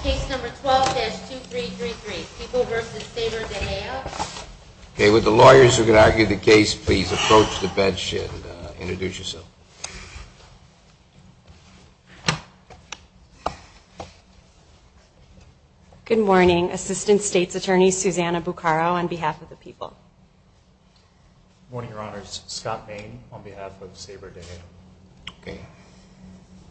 Case number 12-2333, People v. Saber-Daheya. Okay, would the lawyers who are going to argue the case please approach the bench and introduce yourself. Good morning. Assistant State's Attorney Susanna Buccaro on behalf of the People. Good morning, Your Honors. Scott Maine on behalf of Saber-Daheya. Okay.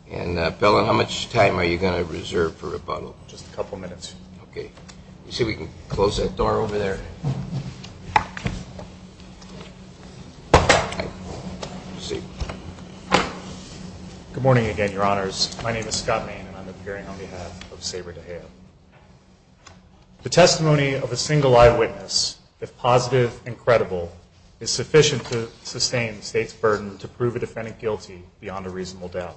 And, Pellin, how much time are you going to reserve for rebuttal? Just a couple minutes. Okay. Let's see if we can close that door over there. Good morning again, Your Honors. My name is Scott Maine, and I'm appearing on behalf of Saber-Daheya. The testimony of a single eyewitness, if positive and credible, is sufficient to sustain the State's burden to prove a defendant guilty beyond a reasonable doubt.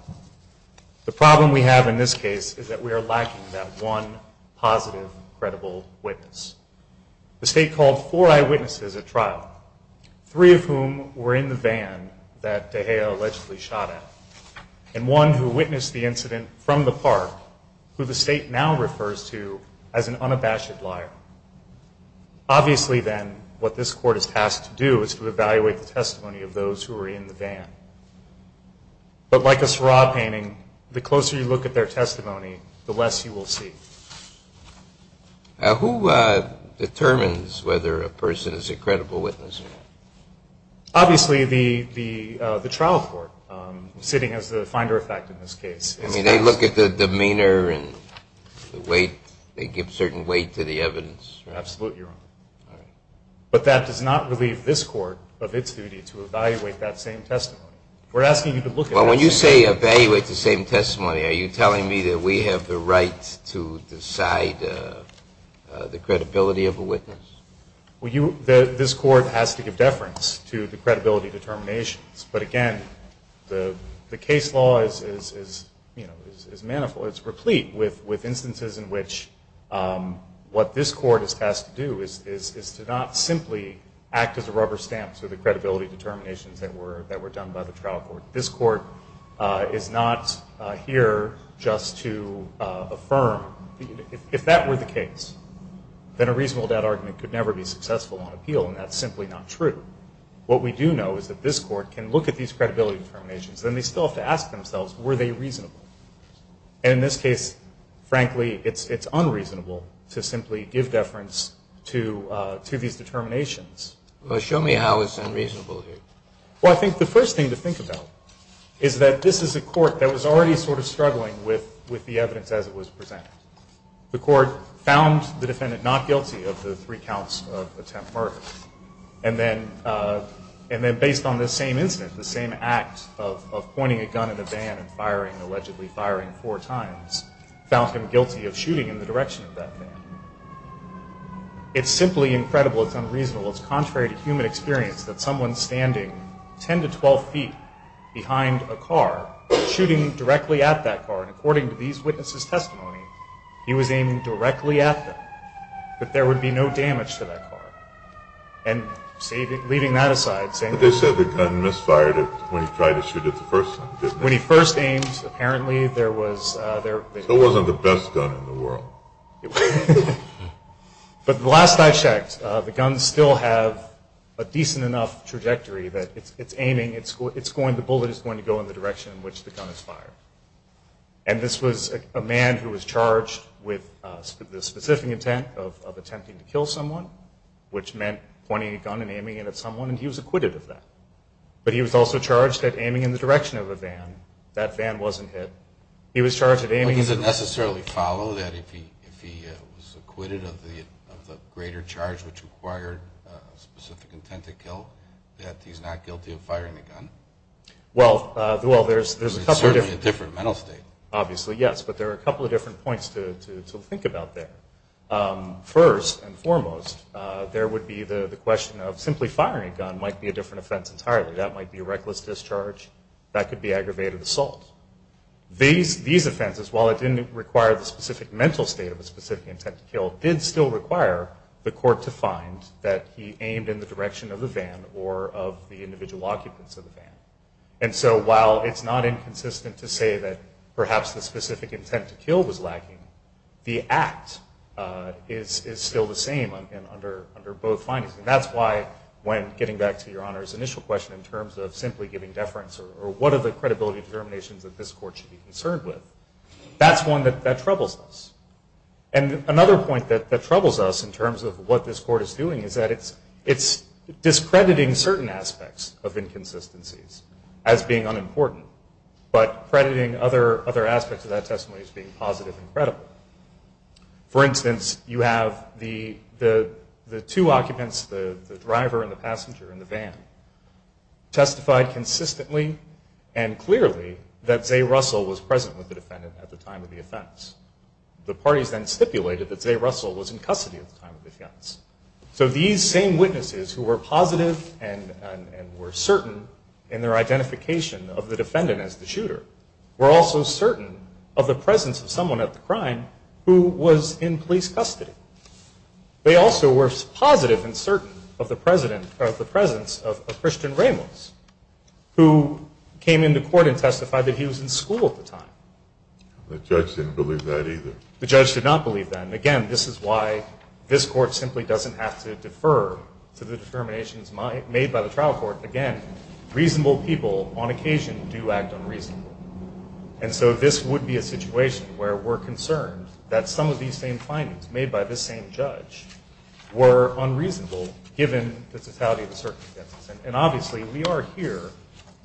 The problem we have in this case is that we are lacking that one positive, credible witness. The State called four eyewitnesses at trial, three of whom were in the van that Daheya allegedly shot at, and one who witnessed the incident from the park, who the State now refers to as an unabashed liar. Obviously, then, what this Court is tasked to do is to evaluate the testimony of those who were in the van. But like a Seurat painting, the closer you look at their testimony, the less you will see. Who determines whether a person is a credible witness? Obviously, the trial court, sitting as the finder of fact in this case. I mean, they look at the demeanor and the weight. They give certain weight to the evidence. Absolutely, Your Honor. But that does not relieve this Court of its duty to evaluate that same testimony. We're asking you to look at it. Well, when you say evaluate the same testimony, are you telling me that we have the right to decide the credibility of a witness? Well, this Court has to give deference to the credibility determinations. But, again, the case law is replete with instances in which what this Court is tasked to do is to not simply act as a rubber stamp to the credibility determinations that were done by the trial court. This Court is not here just to affirm. If that were the case, then a reasonable doubt argument could never be successful on appeal, and that's simply not true. However, what we do know is that this Court can look at these credibility determinations. Then they still have to ask themselves, were they reasonable? And in this case, frankly, it's unreasonable to simply give deference to these determinations. Well, show me how it's unreasonable here. Well, I think the first thing to think about is that this is a court that was already sort of struggling with the evidence as it was presented. The court found the defendant not guilty of the three counts of attempt murder. And then based on this same incident, the same act of pointing a gun in a van and allegedly firing four times, found him guilty of shooting in the direction of that van. It's simply incredible. It's unreasonable. It's contrary to human experience that someone standing 10 to 12 feet behind a car, shooting directly at that car, and according to these witnesses' testimony, he was aiming directly at them, that there would be no damage to that car. And leaving that aside, saying that... But they said the gun misfired when he tried to shoot it the first time, didn't they? When he first aimed, apparently there was... It wasn't the best gun in the world. But last I checked, the gun still has a decent enough trajectory that it's aiming, the bullet is going to go in the direction in which the gun is fired. And this was a man who was charged with the specific intent of attempting to kill someone, which meant pointing a gun and aiming it at someone, and he was acquitted of that. But he was also charged at aiming in the direction of a van. That van wasn't hit. He was charged at aiming... But does it necessarily follow that if he was acquitted of the greater charge which required specific intent to kill, that he's not guilty of firing the gun? Well, there's a couple of different... It's certainly a different mental state. Obviously, yes. But there are a couple of different points to think about there. First and foremost, there would be the question of simply firing a gun might be a different offense entirely. That might be a reckless discharge. That could be aggravated assault. These offenses, while it didn't require the specific mental state of a specific intent to kill, did still require the court to find that he aimed in the direction of the van or of the individual occupants of the van. And so while it's not inconsistent to say that perhaps the specific intent to kill was lacking, the act is still the same under both findings. And that's why when getting back to Your Honor's initial question in terms of simply giving deference or what are the credibility determinations that this court should be concerned with, that's one that troubles us. And another point that troubles us in terms of what this court is doing is that it's discrediting certain aspects of inconsistencies as being unimportant but crediting other aspects of that testimony as being positive and credible. For instance, you have the two occupants, the driver and the passenger in the van, testified consistently and clearly that Zay Russell was present with the defendant at the time of the offense. The parties then stipulated that Zay Russell was in custody at the time of the offense. So these same witnesses who were positive and were certain in their identification of the defendant as the shooter were also certain of the presence of someone at the crime who was in police custody. They also were positive and certain of the presence of Christian Ramos, who came into court and testified that he was in school at the time. The judge didn't believe that either. The judge did not believe that. And, again, this is why this court simply doesn't have to defer to the determinations made by the trial court. Again, reasonable people on occasion do act unreasonably. And so this would be a situation where we're concerned that some of these same findings made by this same judge were unreasonable given the totality of the circumstances. And obviously we are here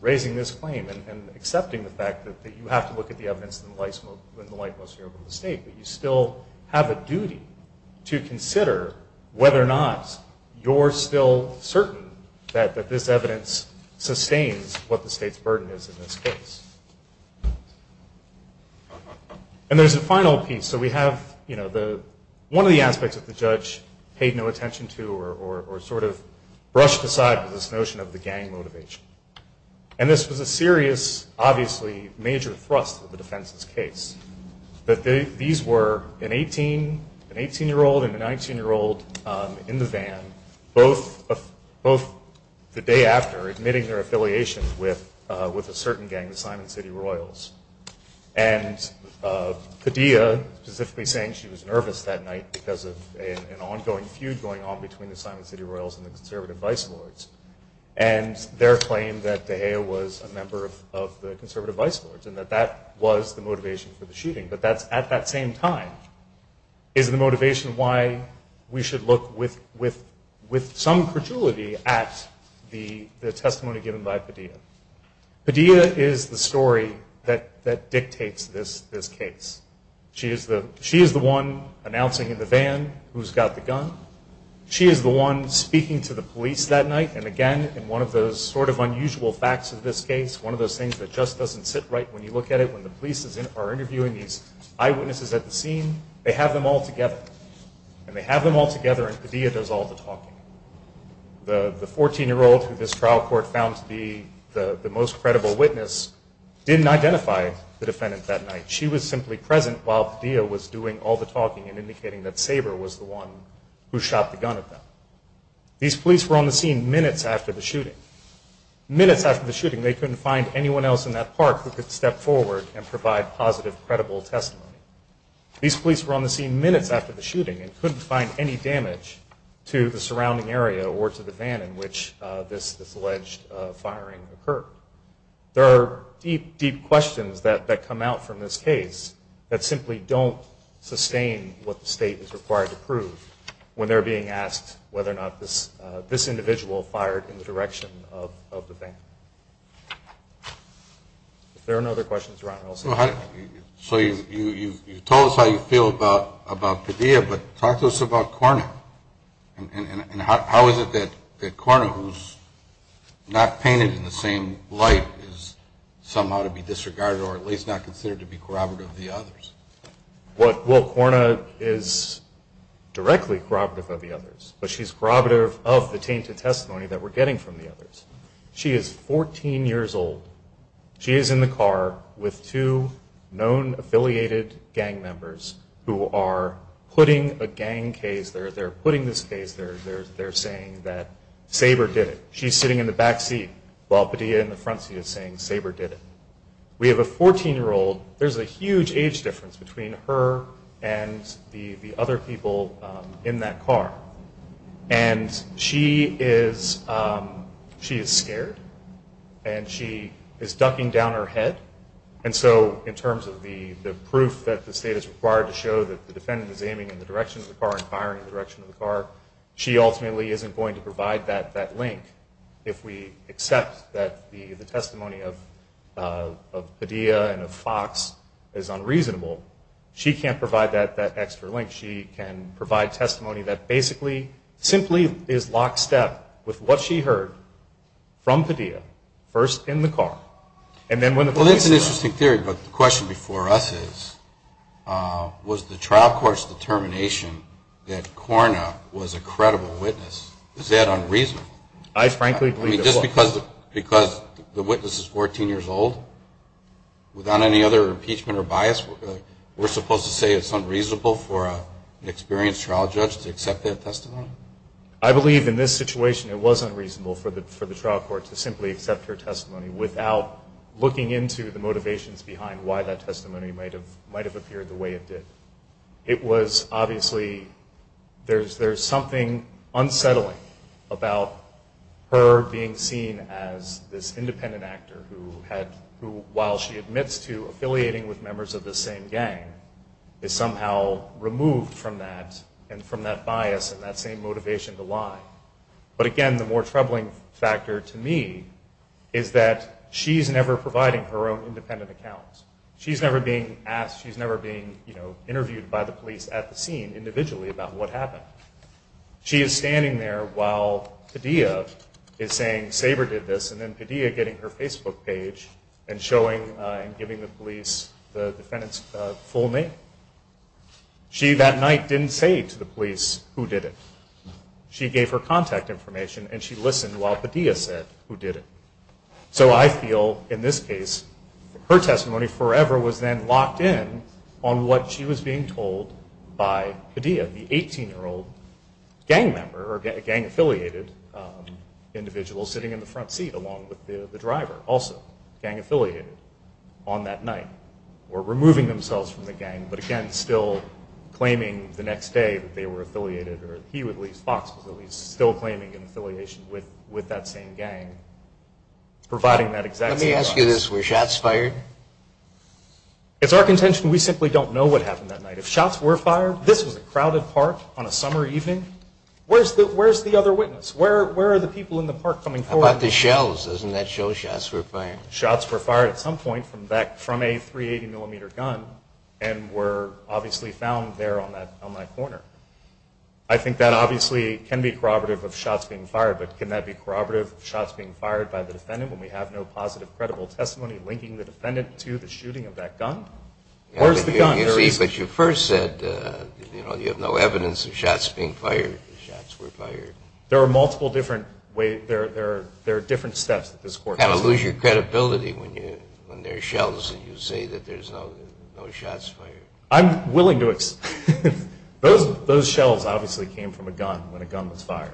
raising this claim and accepting the fact that you have to look at the evidence in the lightmost area of the state, but you still have a duty to consider whether or not you're still certain that this evidence sustains what the state's burden is in this case. And there's a final piece. So we have one of the aspects that the judge paid no attention to or sort of brushed aside with this notion of the gang motivation. And this was a serious, obviously major thrust of the defense's case, that these were an 18-year-old and a 19-year-old in the van, both the day after admitting their affiliation with a certain gang, the Simon City Royals. And Padilla specifically saying she was nervous that night because of an ongoing feud going on between the Simon City Royals and the conservative vice lords. And their claim that De Gea was a member of the conservative vice lords and that that was the motivation for the shooting, but that's at that same time is the motivation why we should look with some credulity at the testimony given by Padilla. Padilla is the story that dictates this case. She is the one announcing in the van who's got the gun. She is the one speaking to the police that night. And again, in one of those sort of unusual facts of this case, one of those things that just doesn't sit right when you look at it, when the police are interviewing these eyewitnesses at the scene, they have them all together. And they have them all together, and Padilla does all the talking. The 14-year-old who this trial court found to be the most credible witness didn't identify the defendant that night. She was simply present while Padilla was doing all the talking and indicating that Saber was the one who shot the gun at them. These police were on the scene minutes after the shooting. Minutes after the shooting, they couldn't find anyone else in that park who could step forward and provide positive, credible testimony. These police were on the scene minutes after the shooting and couldn't find any damage to the surrounding area or to the van in which this alleged firing occurred. There are deep, deep questions that come out from this case that simply don't sustain what the state is required to prove when they're being asked whether or not this individual fired in the direction of the van. If there are no other questions, Ron, we'll say good-bye. So you told us how you feel about Padilla, but talk to us about Corna. And how is it that Corna, who's not painted in the same light, is somehow to be disregarded or at least not considered to be corroborative of the others? Well, Corna is directly corroborative of the others, but she's corroborative of the tainted testimony that we're getting from the others. She is 14 years old. She is in the car with two known affiliated gang members who are putting a gang case, they're putting this case, they're saying that Saber did it. She's sitting in the back seat while Padilla in the front seat is saying Saber did it. We have a 14-year-old. There's a huge age difference between her and the other people in that car. And she is scared, and she is ducking down her head. And so in terms of the proof that the state is required to show that the defendant is aiming in the direction of the car and firing in the direction of the car, she ultimately isn't going to provide that link if we accept that the testimony of Padilla and of Fox is unreasonable. She can't provide that extra link. She can provide testimony that basically simply is lockstep with what she heard from Padilla, first in the car. Well, that's an interesting theory, but the question before us is, was the trial court's determination that Corna was a credible witness, is that unreasonable? I frankly believe it was. I mean, just because the witness is 14 years old, without any other impeachment or bias, we're supposed to say it's unreasonable for an experienced trial judge to accept that testimony? I believe in this situation it was unreasonable for the trial court to simply accept her testimony without looking into the motivations behind why that testimony might have appeared the way it did. It was obviously, there's something unsettling about her being seen as this independent actor who while she admits to affiliating with members of the same gang, is somehow removed from that and from that bias and that same motivation to lie. But again, the more troubling factor to me is that she's never providing her own independent account. She's never being asked, she's never being interviewed by the police at the scene individually about what happened. She is standing there while Padilla is saying Saber did this, and then Padilla getting her Facebook page and showing and giving the police the defendant's full name. She that night didn't say to the police who did it. She gave her contact information and she listened while Padilla said who did it. So I feel in this case, her testimony forever was then locked in on what she was being told by Padilla, the 18-year-old gang member or gang-affiliated individual sitting in the front seat along with the driver, also gang-affiliated on that night. Or removing themselves from the gang, but again still claiming the next day that they were affiliated or he at least, Fox was at least, still claiming an affiliation with that same gang, providing that exact testimony. Let me ask you this, were shots fired? It's our contention we simply don't know what happened that night. If shots were fired, this was a crowded park on a summer evening, where's the other witness? Where are the people in the park coming forward? How about the shells? Doesn't that show shots were fired? Shots were fired at some point from a 380-millimeter gun and were obviously found there on that corner. I think that obviously can be corroborative of shots being fired, but can that be corroborative of shots being fired by the defendant when we have no positive credible testimony linking the defendant to the shooting of that gun? Where's the gun? But you first said you have no evidence of shots being fired. The shots were fired. There are different steps that this Court has taken. You kind of lose your credibility when there are shells and you say that there's no shots fired. I'm willing to accept that. Those shells obviously came from a gun when a gun was fired.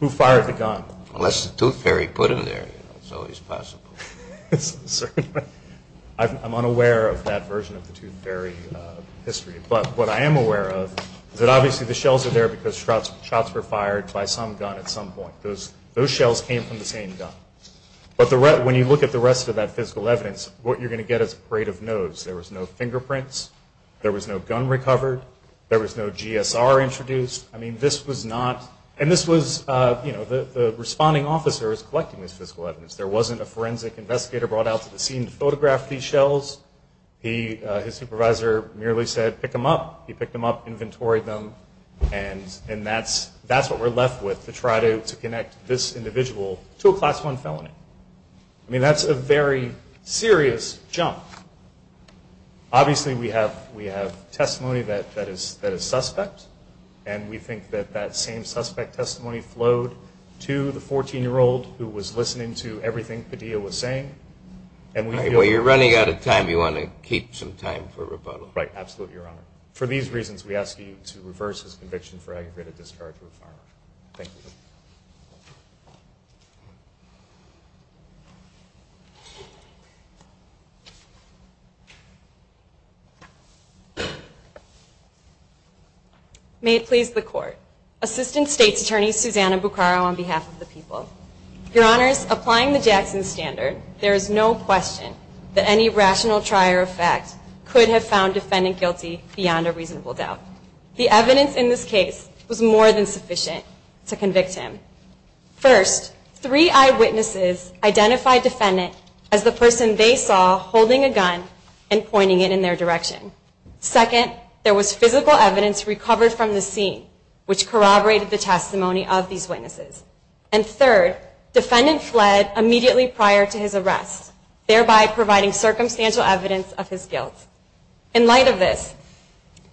Who fired the gun? Unless the Tooth Fairy put them there. It's always possible. I'm unaware of that version of the Tooth Fairy history, but what I am aware of is that obviously the shells are there because shots were fired by some gun at some point. Those shells came from the same gun. But when you look at the rest of that physical evidence, what you're going to get is a parade of no's. There was no fingerprints. There was no gun recovered. There was no GSR introduced. I mean, this was not, and this was, you know, the responding officer was collecting this physical evidence. There wasn't a forensic investigator brought out to the scene to photograph these shells. His supervisor merely said, pick them up. He picked them up, inventoried them, and that's what we're left with to try to connect this individual to a Class I felony. I mean, that's a very serious jump. Obviously we have testimony that is suspect, and we think that that same suspect testimony flowed to the 14-year-old who was listening to everything Padilla was saying. While you're running out of time, you want to keep some time for rebuttal. Right, absolutely, Your Honor. For these reasons, we ask you to reverse his conviction for aggravated discharge of a firearm. Thank you. May it please the Court. Assistant State's Attorney, Susanna Buccaro, on behalf of the people. Your Honors, applying the Jackson Standard, there is no question that any rational trier of fact could have found defendant guilty beyond a reasonable doubt. The evidence in this case was more than sufficient to convict him. First, three eyewitnesses identified defendant as the person they saw holding a gun and pointing it in their direction. Second, there was physical evidence recovered from the scene which corroborated the testimony of these witnesses. And third, defendant fled immediately prior to his arrest, thereby providing circumstantial evidence of his guilt. In light of this,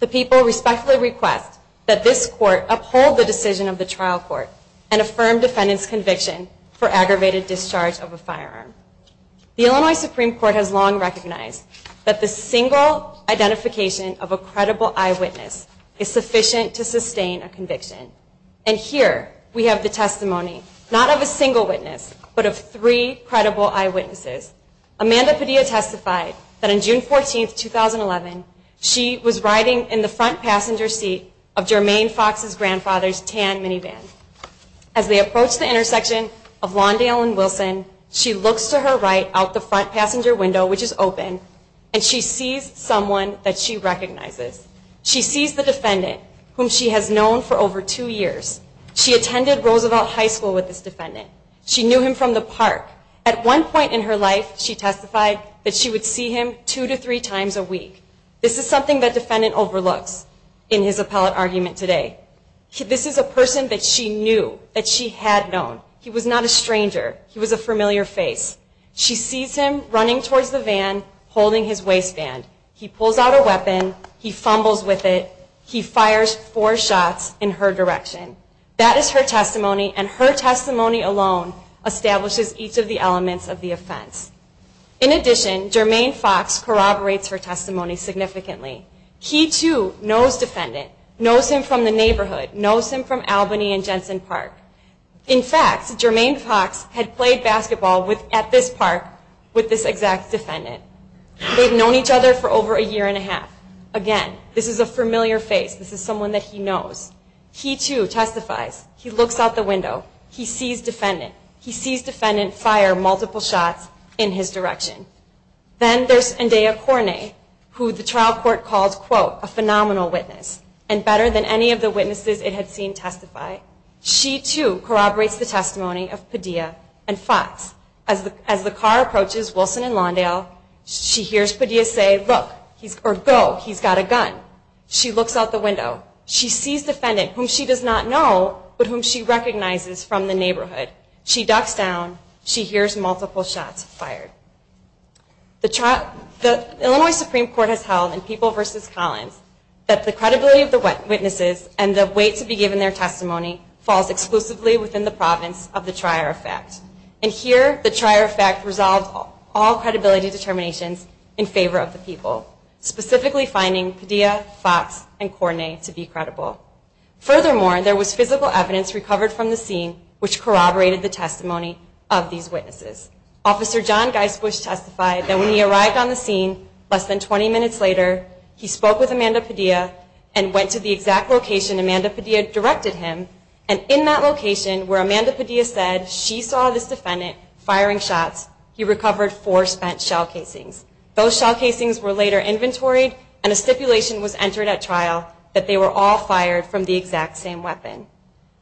the people respectfully request that this Court uphold the decision of the trial court and affirm defendant's conviction for aggravated discharge of a firearm. The Illinois Supreme Court has long recognized that the single identification of a credible eyewitness is sufficient to sustain a conviction. And here we have the testimony, not of a single witness, but of three credible eyewitnesses. Amanda Padilla testified that on June 14, 2011, she was riding in the front passenger seat of Jermaine Fox's grandfather's tan minivan. As they approached the intersection of Lawndale and Wilson, she looks to her right out the front passenger window, which is open, and she sees someone that she recognizes. She sees the defendant, whom she has known for over two years. She attended Roosevelt High School with this defendant. She knew him from the park. At one point in her life, she testified that she would see him two to three times a week. This is something that defendant overlooks in his appellate argument today. This is a person that she knew, that she had known. He was not a stranger. He was a familiar face. She sees him running towards the van, holding his waistband. He pulls out a weapon. He fumbles with it. He fires four shots in her direction. That is her testimony, and her testimony alone establishes each of the elements of the offense. In addition, Jermaine Fox corroborates her testimony significantly. He, too, knows defendant, knows him from the neighborhood, knows him from Albany and Jensen Park. In fact, Jermaine Fox had played basketball at this park with this exact defendant. They've known each other for over a year and a half. Again, this is a familiar face. This is someone that he knows. He, too, testifies. He looks out the window. He sees defendant. He sees defendant fire multiple shots in his direction. Then there's Ndeye Korne, who the trial court called, quote, a phenomenal witness, and better than any of the witnesses it had seen testify. She, too, corroborates the testimony of Padilla and Fox. As the car approaches Wilson and Lawndale, she hears Padilla say, look, or go, he's got a gun. She looks out the window. She sees defendant, whom she does not know, but whom she recognizes from the neighborhood. She ducks down. She hears multiple shots fired. The Illinois Supreme Court has held in People v. Collins that the credibility of the witnesses and the weight to be given their testimony falls exclusively within the province of the trier effect. And here, the trier effect resolves all credibility determinations in favor of the people, specifically finding Padilla, Fox, and Korne to be credible. Furthermore, there was physical evidence recovered from the scene, which corroborated the testimony of these witnesses. Officer John Geisbusch testified that when he arrived on the scene less than 20 minutes later, he spoke with Amanda Padilla and went to the exact location Amanda Padilla directed him, and in that location where Amanda Padilla said she saw this defendant firing shots, he recovered four spent shell casings. Those shell casings were later inventoried, and a stipulation was entered at trial that they were all fired from the exact same weapon.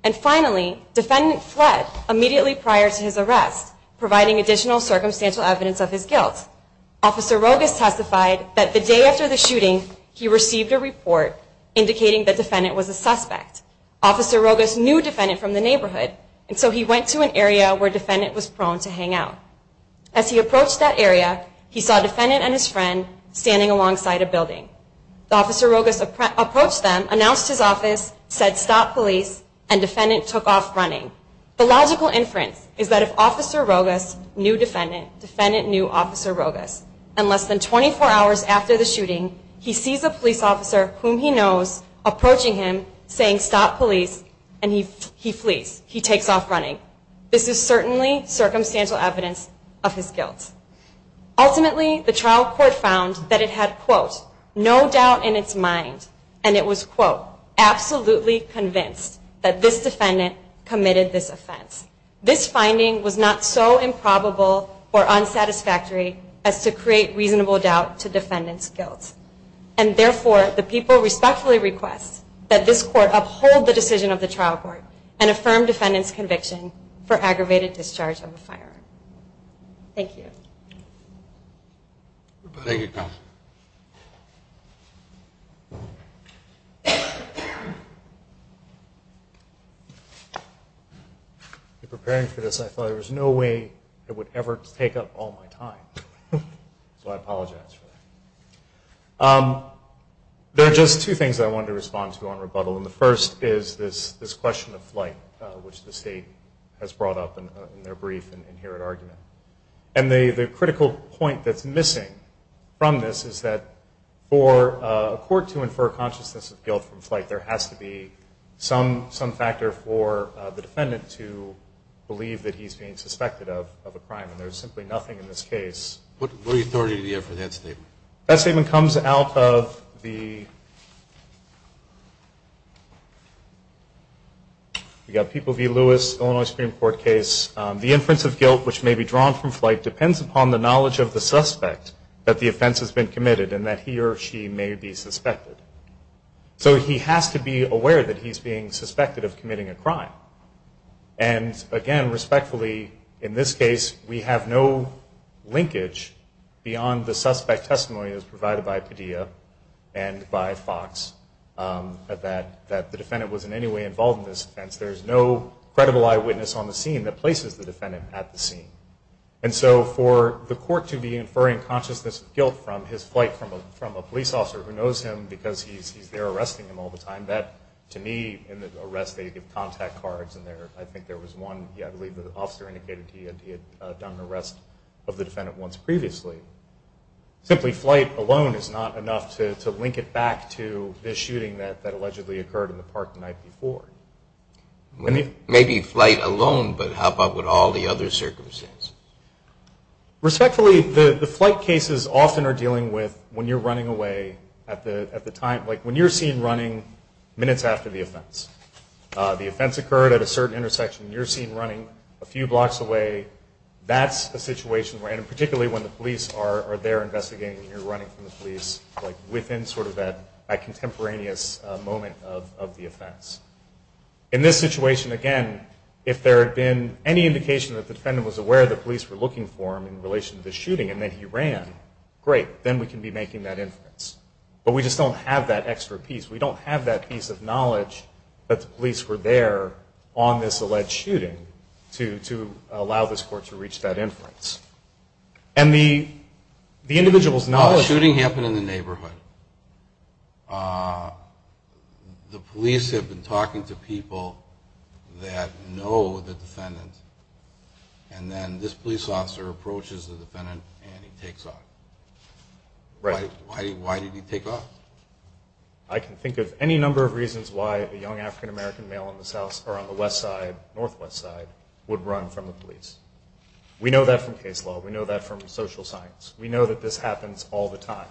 And finally, defendant fled immediately prior to his arrest, providing additional circumstantial evidence of his guilt. Officer Rogas testified that the day after the shooting, he received a report indicating the defendant was a suspect. Officer Rogas knew defendant from the neighborhood, and so he went to an area where defendant was prone to hang out. As he approached that area, he saw defendant and his friend standing alongside a building. The officer Rogas approached them, announced his office, said stop police, and defendant took off running. The logical inference is that if officer Rogas knew defendant, defendant knew officer Rogas. And less than 24 hours after the shooting, he sees a police officer whom he knows approaching him saying stop police, and he flees. He takes off running. This is certainly circumstantial evidence of his guilt. Ultimately, the trial court found that it had, quote, no doubt in its mind, and it was, quote, absolutely convinced that this defendant committed this offense. This finding was not so improbable or unsatisfactory as to create reasonable doubt to defendant's guilt. And therefore, the people respectfully request that this court uphold the decision of the trial court and affirm defendant's conviction for aggravated discharge of a firearm. Thank you. Thank you, counsel. In preparing for this, I thought there was no way it would ever take up all my time. So I apologize for that. There are just two things I wanted to respond to on rebuttal, and the first is this question of flight, which the state has brought up in their brief and inherent argument. And the critical point that's missing from this is that for a court to infer consciousness of guilt from flight, there has to be some factor for the defendant to believe that he's being suspected of a crime, and there's simply nothing in this case. What authority do you have for that statement? That statement comes out of the People v. Lewis, Illinois Supreme Court case. The inference of guilt which may be drawn from flight depends upon the knowledge of the suspect that the offense has been committed and that he or she may be suspected. So he has to be aware that he's being suspected of committing a crime. And, again, respectfully, in this case, we have no linkage beyond the suspect testimony as provided by Padilla and by Fox that the defendant was in any way involved in this offense. There's no credible eyewitness on the scene that places the defendant at the scene. And so for the court to be inferring consciousness of guilt from his flight from a police officer who knows him because he's there arresting him all the time, that to me in the arrest they give contact cards, and I think there was one, I believe the officer indicated he had done an arrest of the defendant once previously. Simply flight alone is not enough to link it back to this shooting that allegedly occurred in the park the night before. Maybe flight alone, but how about with all the other circumstances? Respectfully, the flight cases often are dealing with when you're running away at the time, like when you're seen running minutes after the offense. The offense occurred at a certain intersection, and you're seen running a few blocks away. That's a situation where, and particularly when the police are there investigating and you're running from the police within sort of that contemporaneous moment of the offense. In this situation, again, if there had been any indication that the defendant was aware the police were looking for him in relation to the shooting and that he ran, great. Then we can be making that inference. But we just don't have that extra piece. We don't have that piece of knowledge that the police were there on this alleged shooting to allow this court to reach that inference. And the individual's knowledge. No, the shooting happened in the neighborhood. The police have been talking to people that know the defendant, and then this police officer approaches the defendant and he takes off. Right. Why did he take off? I can think of any number of reasons why a young African-American male in the south or on the west side, northwest side, would run from the police. We know that from case law. We know that from social science. We know that this happens all the time.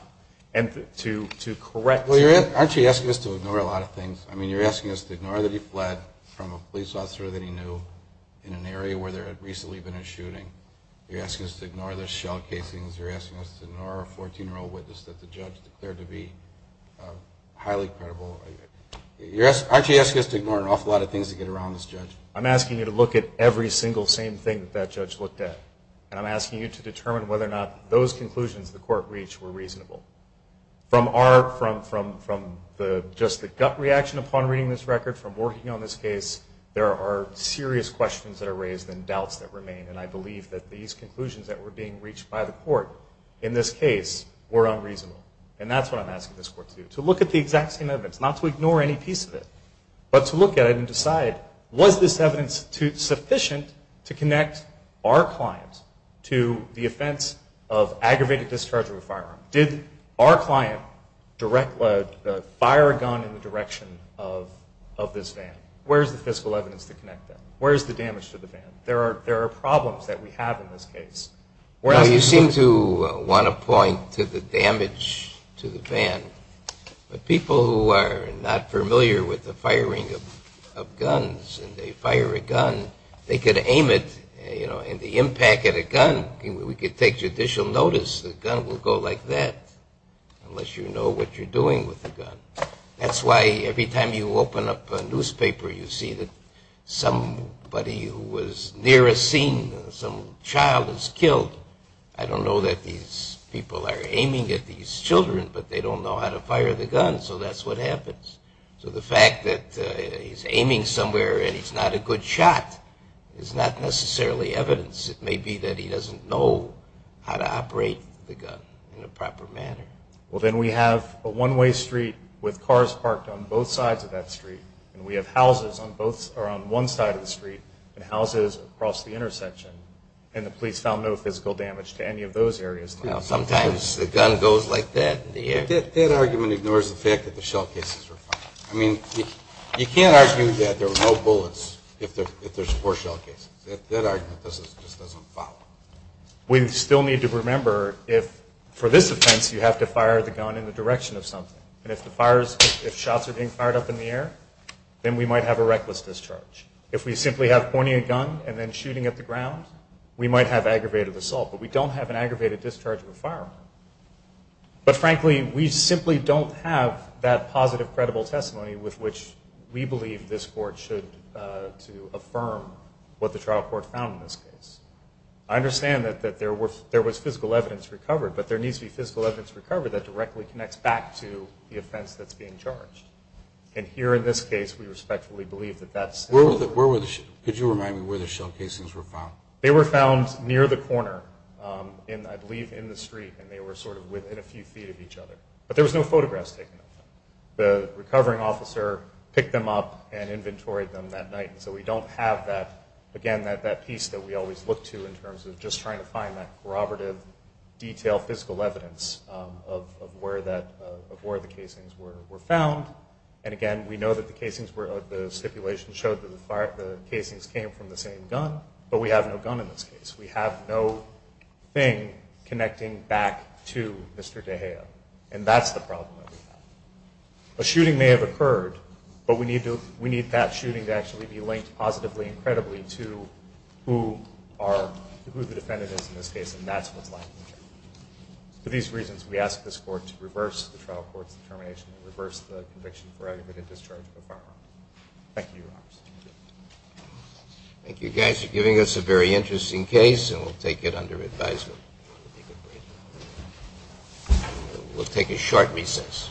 And to correct... Well, aren't you asking us to ignore a lot of things? I mean, you're asking us to ignore that he fled from a police officer that he knew in an area where there had recently been a shooting. You're asking us to ignore the shell casings. You're asking us to ignore a 14-year-old witness that the judge declared to be highly credible. Aren't you asking us to ignore an awful lot of things that get around this judge? I'm asking you to look at every single same thing that that judge looked at. And I'm asking you to determine whether or not those conclusions the court reached were reasonable. From just the gut reaction upon reading this record, from working on this case, and I believe that these conclusions that were being reached by the court in this case were unreasonable. And that's what I'm asking this court to do, to look at the exact same evidence, not to ignore any piece of it, but to look at it and decide, was this evidence sufficient to connect our client to the offense of aggravated discharging of a firearm? Did our client direct the fire gun in the direction of this van? Where is the fiscal evidence to connect that? Where is the damage to the van? There are problems that we have in this case. Well, you seem to want to point to the damage to the van. But people who are not familiar with the firing of guns, and they fire a gun, they could aim it, you know, and the impact of the gun, we could take judicial notice, the gun will go like that, unless you know what you're doing with the gun. That's why every time you open up a newspaper, you see that somebody who was near a scene, some child is killed. I don't know that these people are aiming at these children, but they don't know how to fire the gun, so that's what happens. So the fact that he's aiming somewhere and he's not a good shot is not necessarily evidence. It may be that he doesn't know how to operate the gun in a proper manner. Well, then we have a one-way street with cars parked on both sides of that street, and we have houses on one side of the street and houses across the intersection, and the police found no physical damage to any of those areas. Sometimes the gun goes like that. That argument ignores the fact that the shell cases were fired. I mean, you can't argue that there were no bullets if there's four shell cases. That argument just doesn't follow. We still need to remember if, for this offense, you have to fire the gun in the direction of something, and if shots are being fired up in the air, then we might have a reckless discharge. If we simply have pointing a gun and then shooting at the ground, we might have aggravated assault, but we don't have an aggravated discharge of a firearm. But, frankly, we simply don't have that positive, credible testimony with which we believe this court should affirm what the trial court found in this case. I understand that there was physical evidence recovered, but there needs to be physical evidence recovered that directly connects back to the offense that's being charged. And here, in this case, we respectfully believe that that's... Could you remind me where the shell cases were found? They were found near the corner, I believe in the street, and they were sort of within a few feet of each other. But there was no photographs taken of them. The recovering officer picked them up and inventoried them that night, and so we don't have, again, that piece that we always look to in terms of just trying to find that corroborative, detailed physical evidence of where the casings were found. And, again, we know that the stipulation showed that the casings came from the same gun, but we have no gun in this case. We have no thing connecting back to Mr. De Gea, and that's the problem that we have. A shooting may have occurred, but we need that shooting to actually be linked positively and credibly to who the defendant is in this case, and that's what's lacking here. For these reasons, we ask this Court to reverse the trial court's determination and reverse the conviction for aggravated discharge of a firearm. Thank you, Your Honor. Thank you, guys, for giving us a very interesting case, and we'll take it under advisement. We'll take a short recess.